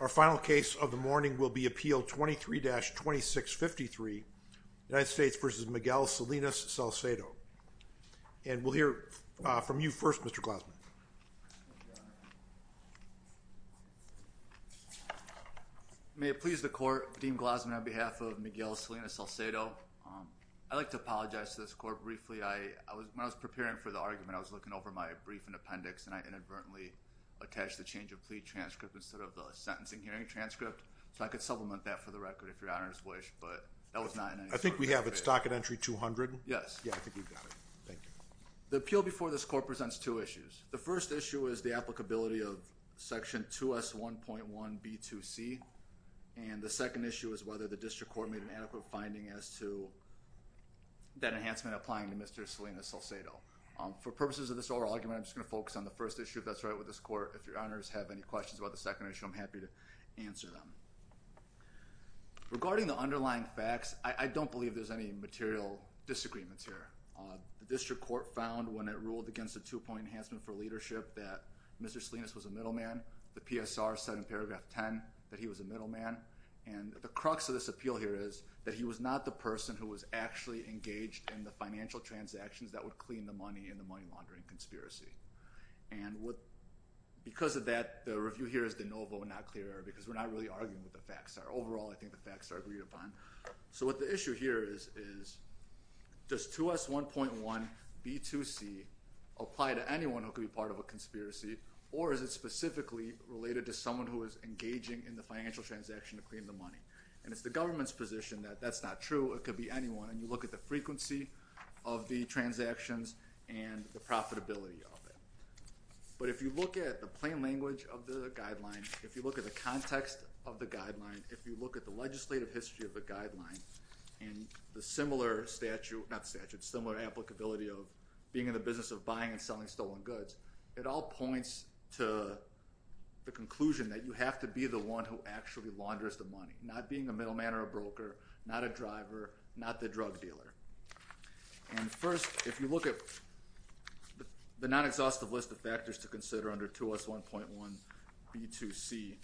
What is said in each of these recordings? Our final case of the morning will be Appeal 23-2653, United States v. Miguel Salinas-Salcedo. And we'll hear from you first, Mr. Glausman. May it please the Court, Dean Glausman, on behalf of Miguel Salinas-Salcedo, I'd like to apologize to this Court briefly. When I was preparing for the argument, I was looking over my brief and appendix and I inadvertently attached the change of plea transcript instead of the sentencing hearing transcript, so I could supplement that for the record, if Your Honor's wish, but that was not in any sort I think we have it stock at entry 200. Yes. Yeah, I think we've got it. Thank you. The appeal before this Court presents two issues. The first issue is the applicability of Section 2S1.1b2c and the second issue is whether the District Court made an adequate finding as to that enhancement applying to Mr. Salinas-Salcedo. For purposes of this oral argument, I'm just going to focus on the first issue, if that's right with this Court. If Your Honors have any questions about the second issue, I'm happy to answer them. Regarding the underlying facts, I don't believe there's any material disagreements here. The District Court found when it ruled against a two-point enhancement for leadership that Mr. Salinas was a middleman, the PSR said in paragraph 10 that he was a middleman, and the crux of this appeal here is that he was not the person who was actually engaged in the financial transactions that would clean the money in the money laundering conspiracy. Because of that, the review here is de novo, not clear error, because we're not really arguing with the facts. Overall, I think the facts are agreed upon. So what the issue here is, is does 2S1.1B2C apply to anyone who could be part of a conspiracy, or is it specifically related to someone who is engaging in the financial transaction to clean the money? And it's the government's position that that's not true, it could be anyone, and you look at the frequency of the transactions and the profitability of it. But if you look at the plain language of the guideline, if you look at the context of the guideline, if you look at the legislative history of the guideline, and the similar statute, not statute, similar applicability of being in the business of buying and selling stolen goods, it all points to the conclusion that you have to be the one who actually launders the money, not being a middleman or a broker, not a driver, not the drug dealer. And first, if you look at the non-exhaustive list of factors to consider under 2S1.1B2C,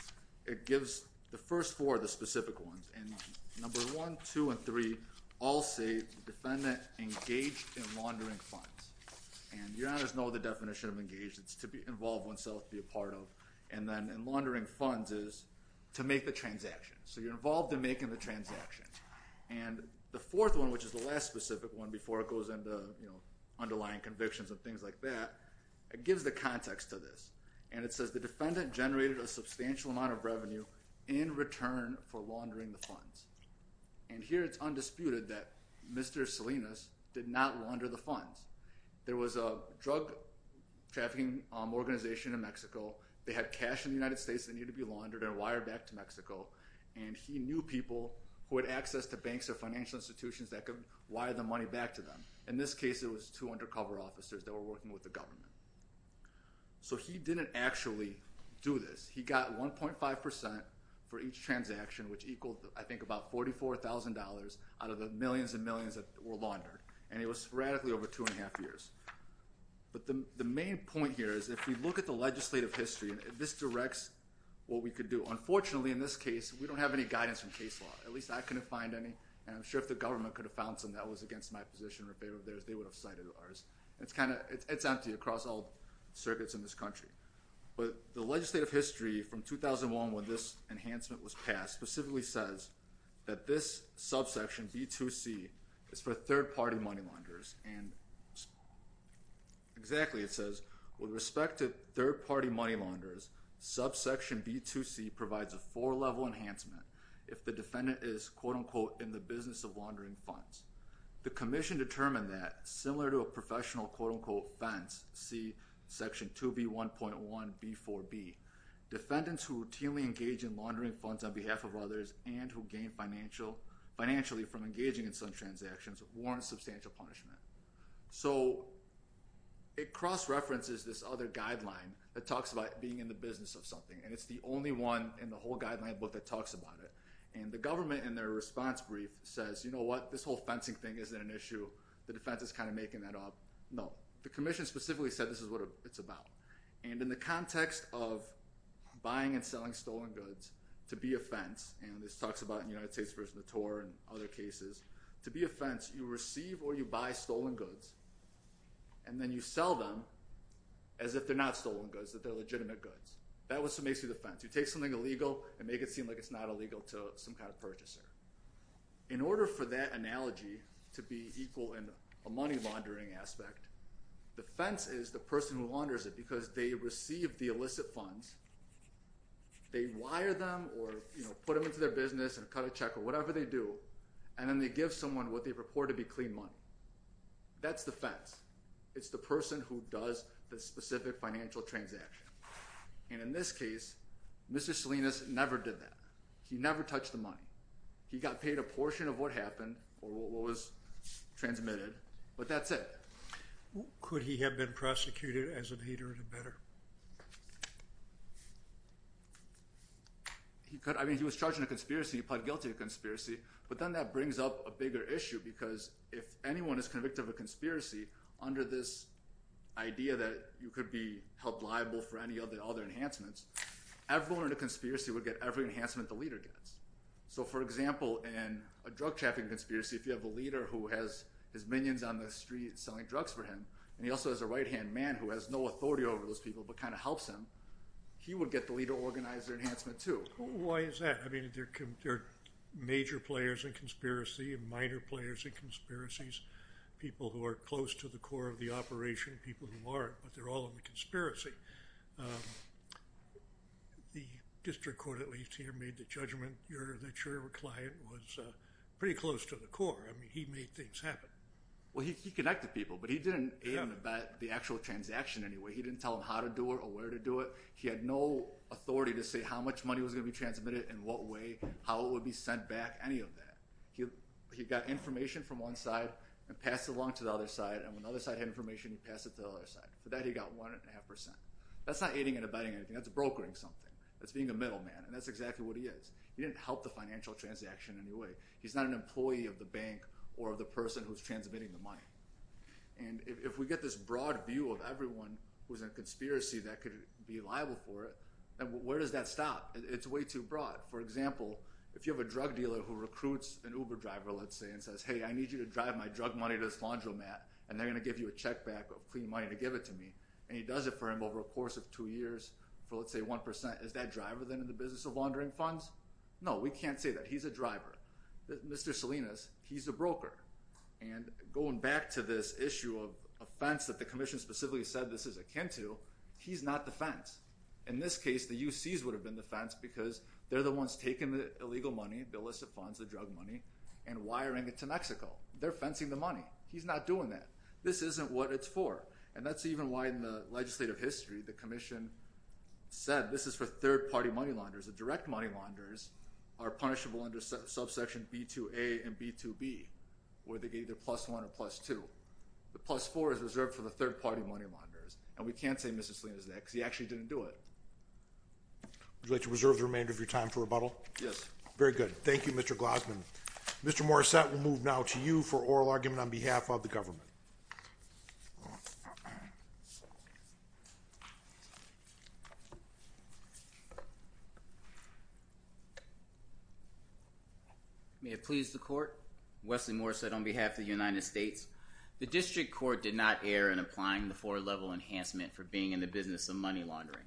it gives the first four the specific ones, and number 1, 2, and 3 all say the defendant engaged in laundering funds. And you already know the definition of engaged, it's to involve oneself, to be a part of, and then in laundering funds is to make the transaction, so you're involved in making the transaction. And the fourth one, which is the last specific one before it goes into underlying convictions and things like that, it gives the context to this, and it says the defendant generated a substantial amount of revenue in return for laundering the funds. And here it's undisputed that Mr. Salinas did not launder the funds. There was a drug trafficking organization in Mexico, they had cash in the United States that needed to be laundered and wired back to Mexico, and he knew people who had access to banks or financial institutions that could wire the money back to them. In this case, it was two undercover officers that were working with the government. So he didn't actually do this. He got 1.5% for each transaction, which equaled, I think, about $44,000 out of the millions and millions that were laundered, and it was radically over two and a half years. But the main point here is if you look at the legislative history, this directs what we could do. Unfortunately, in this case, we don't have any guidance from case law, at least I couldn't find any, and I'm sure if the government could have found some that was against my position or in favor of theirs, they would have cited ours. It's kind of, it's empty across all circuits in this country. But the legislative history from 2001 when this enhancement was passed specifically says that this subsection, B2C, is for third-party money launderers, and exactly, it says, with respect to third-party money launderers, subsection B2C provides a four-level enhancement if the defendant is, quote-unquote, in the business of laundering funds. The commission determined that, similar to a professional, quote-unquote, fence, see section 2B1.1B4B, defendants who routinely engage in laundering funds on behalf of others and who gain financially from engaging in such transactions warrant substantial punishment. So it cross-references this other guideline that talks about being in the business of something, and it's the only one in the whole guideline book that talks about it. And the government, in their response brief, says, you know what, this whole fencing thing isn't an issue. The defense is kind of making that up. No, the commission specifically said this is what it's about. And in the context of buying and selling stolen goods, to be a fence, and this talks about in the United States versus the TOR and other cases, to be a fence, you receive or you buy stolen goods, and then you sell them as if they're not stolen goods, that they're legitimate goods. That's what makes it a fence. You take something illegal and make it seem like it's not illegal to some kind of purchaser. In order for that analogy to be equal in a money laundering aspect, defense is the person who launders it because they receive the illicit funds, they wire them or put them into their business and cut a check or whatever they do, and then they give someone what they report to be clean money. That's the fence. It's the person who does the specific financial transaction. And in this case, Mr. Salinas never did that. He never touched the money. He got paid a portion of what happened or what was transmitted, but that's it. Could he have been prosecuted as a leader in a better? He could. I mean, he was charged in a conspiracy. He pled guilty to conspiracy. But then that brings up a bigger issue because if anyone is convicted of a conspiracy under this idea that you could be held liable for any other enhancements, everyone in a conspiracy would get every enhancement the leader gets. So for example, in a drug trafficking conspiracy, if you have a leader who has his minions on the street selling drugs for him, and he also has a right-hand man who has no authority over those people but kind of helps him, he would get the leader to organize their enhancement too. Why is that? I mean, there are major players in conspiracy, minor players in conspiracies, people who are close to the core of the operation, people who aren't, but they're all in the conspiracy. The district court, at least, here made the judgment that your client was pretty close to the core. I mean, he made things happen. Well, he connected people, but he didn't aid and abet the actual transaction anyway. He didn't tell him how to do it or where to do it. He had no authority to say how much money was going to be transmitted, in what way, how it would be sent back, any of that. He got information from one side and passed it along to the other side, and when the other side had information, he passed it to the other side. For that, he got 1.5%. That's not aiding and abetting anything. That's brokering something. That's being a middleman, and that's exactly what he is. He didn't help the financial transaction in any way. He's not an employee of the bank or of the person who's transmitting the money. And if we get this broad view of everyone who's in a conspiracy that could be liable for it, then where does that stop? It's way too broad. For example, if you have a drug dealer who recruits an Uber driver, let's say, and says, hey, I need you to drive my drug money to this laundromat, and they're going to give you a check back of clean money to give it to me, and he does it for him over a course of two years for, let's say, 1%, is that driver then in the business of laundering funds? No, we can't say that. He's a driver. Mr. Salinas, he's a broker. And going back to this issue of offense that the commission specifically said this is akin to, he's not the fence. In this case, the UCs would have been the fence because they're the ones taking the illegal money, the illicit funds, the drug money, and wiring it to Mexico. They're fencing the money. He's not doing that. This isn't what it's for. And that's even why in the legislative history, the commission said this is for third-party money launderers. The direct money launderers are punishable under subsection B2A and B2B, where they get either plus one or plus two. The plus four is reserved for the third-party money launderers, and we can't say Mr. Salinas did that because he actually didn't do it. Would you like to reserve the remainder of your time for rebuttal? Yes. Very good. Thank you, Mr. Glossman. Mr. Morissette, we'll move now to you for oral argument on behalf of the government. May it please the Court, Wesley Morissette on behalf of the United States. The district court did not err in applying the four-level enhancement for being in the business of money laundering.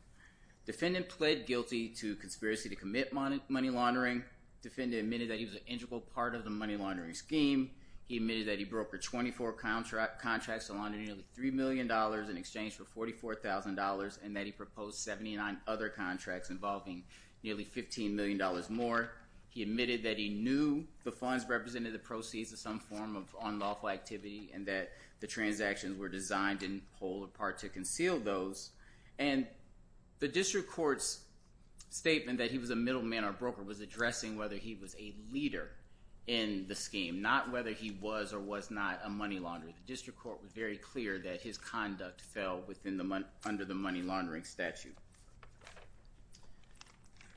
Defendant pled guilty to conspiracy to commit money laundering. Defendant admitted that he was an integral part of the money laundering scheme. He admitted that he brokered 24 contracts to launder nearly $3 million in exchange for $44,000, and that he proposed 79 other contracts involving nearly $15 million more. He admitted that he knew the funds represented the proceeds of some form of unlawful activity and that the transactions were designed in whole or part to conceal those. And the district court's statement that he was a middleman or broker was addressing whether he was a leader in the scheme, not whether he was or was not a money launderer. The district court was very clear that his conduct fell under the money laundering statute.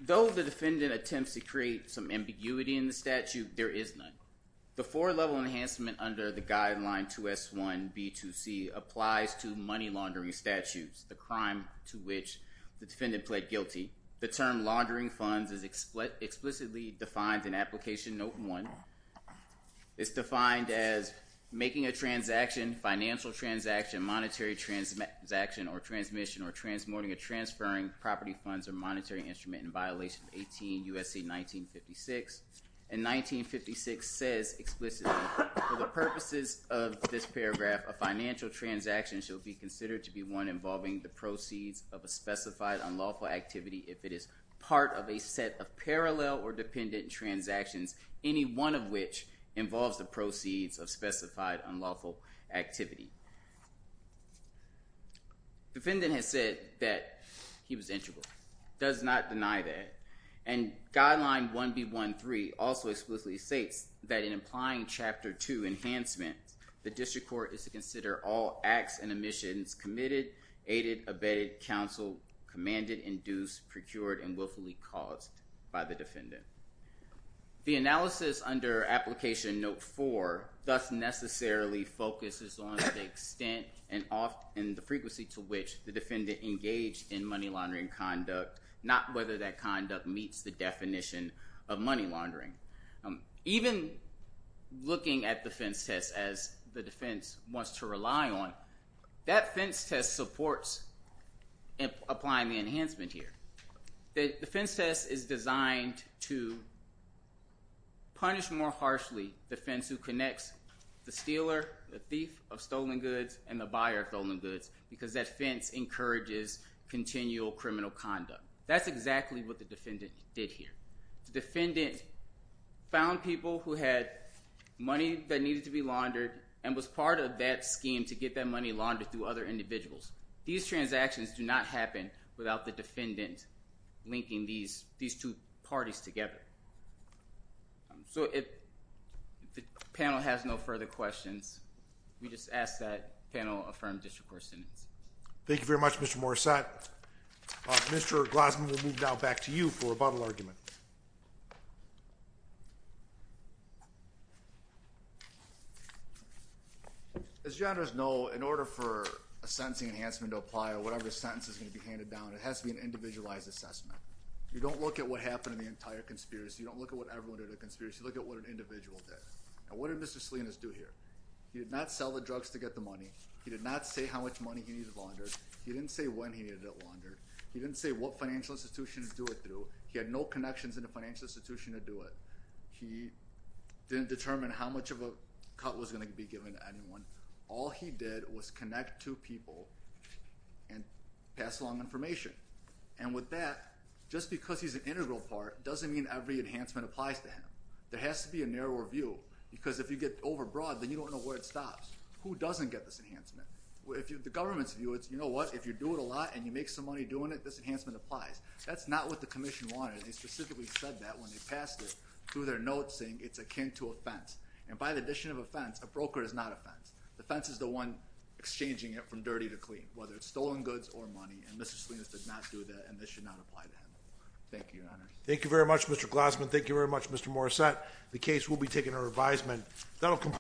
Though the defendant attempts to create some ambiguity in the statute, there is none. The four-level enhancement under the guideline 2S1B2C applies to money laundering statutes, the crime to which the defendant pled guilty. The term laundering funds is explicitly defined in application note one. It's defined as making a transaction, financial transaction, monetary transaction or transmission or transporting or transferring property funds or monetary instrument in violation 18 U.S.C. 1956. And 1956 says explicitly, for the purposes of this paragraph, a financial transaction should be considered to be one involving the proceeds of a specified unlawful activity if it is part of a set of parallel or dependent transactions, any one of which involves the proceeds of specified unlawful activity. Defendant has said that he was integral, does not deny that. And guideline 1B13 also explicitly states that in applying chapter two enhancement, the district court is to consider all acts and omissions committed, aided, abetted, counseled, commanded, induced, procured, and willfully caused by the defendant. The analysis under application note four thus necessarily focuses on the extent and the frequency to which the defendant engaged in money laundering conduct, not whether that conduct meets the definition of money laundering. Even looking at the fence test as the defense wants to rely on, that fence test supports applying the enhancement here. The fence test is designed to punish more harshly the fence who connects the stealer, the thief of stolen goods, and the buyer of stolen goods because that fence encourages continual criminal conduct. That's exactly what the defendant did here. The defendant found people who had money that needed to be laundered and was part of that scheme to get that money laundered through other individuals. These transactions do not happen without the defendant linking these two parties together. If the panel has no further questions, we just ask that panel affirm district court sentence. Thank you very much, Mr. Morissette. Mr. Glassman, we'll move now back to you for rebuttal argument. As you already know, in order for a sentencing enhancement to apply or whatever sentence is going to be handed down, it has to be an individualized assessment. You don't look at what happened in the entire conspiracy. You don't look at what everyone did in the conspiracy. You look at what an individual did. Now, what did Mr. Salinas do here? He did not sell the drugs to get the money. He did not say how much money he needed laundered. He didn't say when he needed it laundered. He didn't say what financial institution to do it through. He had no connections in the financial institution to do it. He didn't determine how much of a cut was going to be given to anyone. All he did was connect two people and pass along information. And with that, just because he's an integral part doesn't mean every enhancement applies to him. There has to be a narrower view because if you get overbroad, then you don't know where it stops. Who doesn't get this enhancement? The government's view is, you know what, if you do it a lot and you make some money doing it, this enhancement applies. That's not what the commission wanted. They specifically said that when they passed it through their notes saying it's akin to offense. And by the addition of offense, a broker is not offense. The offense is the one exchanging it from dirty to clean, whether it's stolen goods or money. And Mr. Salinas did not do that, and this should not apply to him. Thank you, Your Honor. Thank you very much, Mr. Glassman. Thank you very much, Mr. Morissette. The case will be taken under advisement.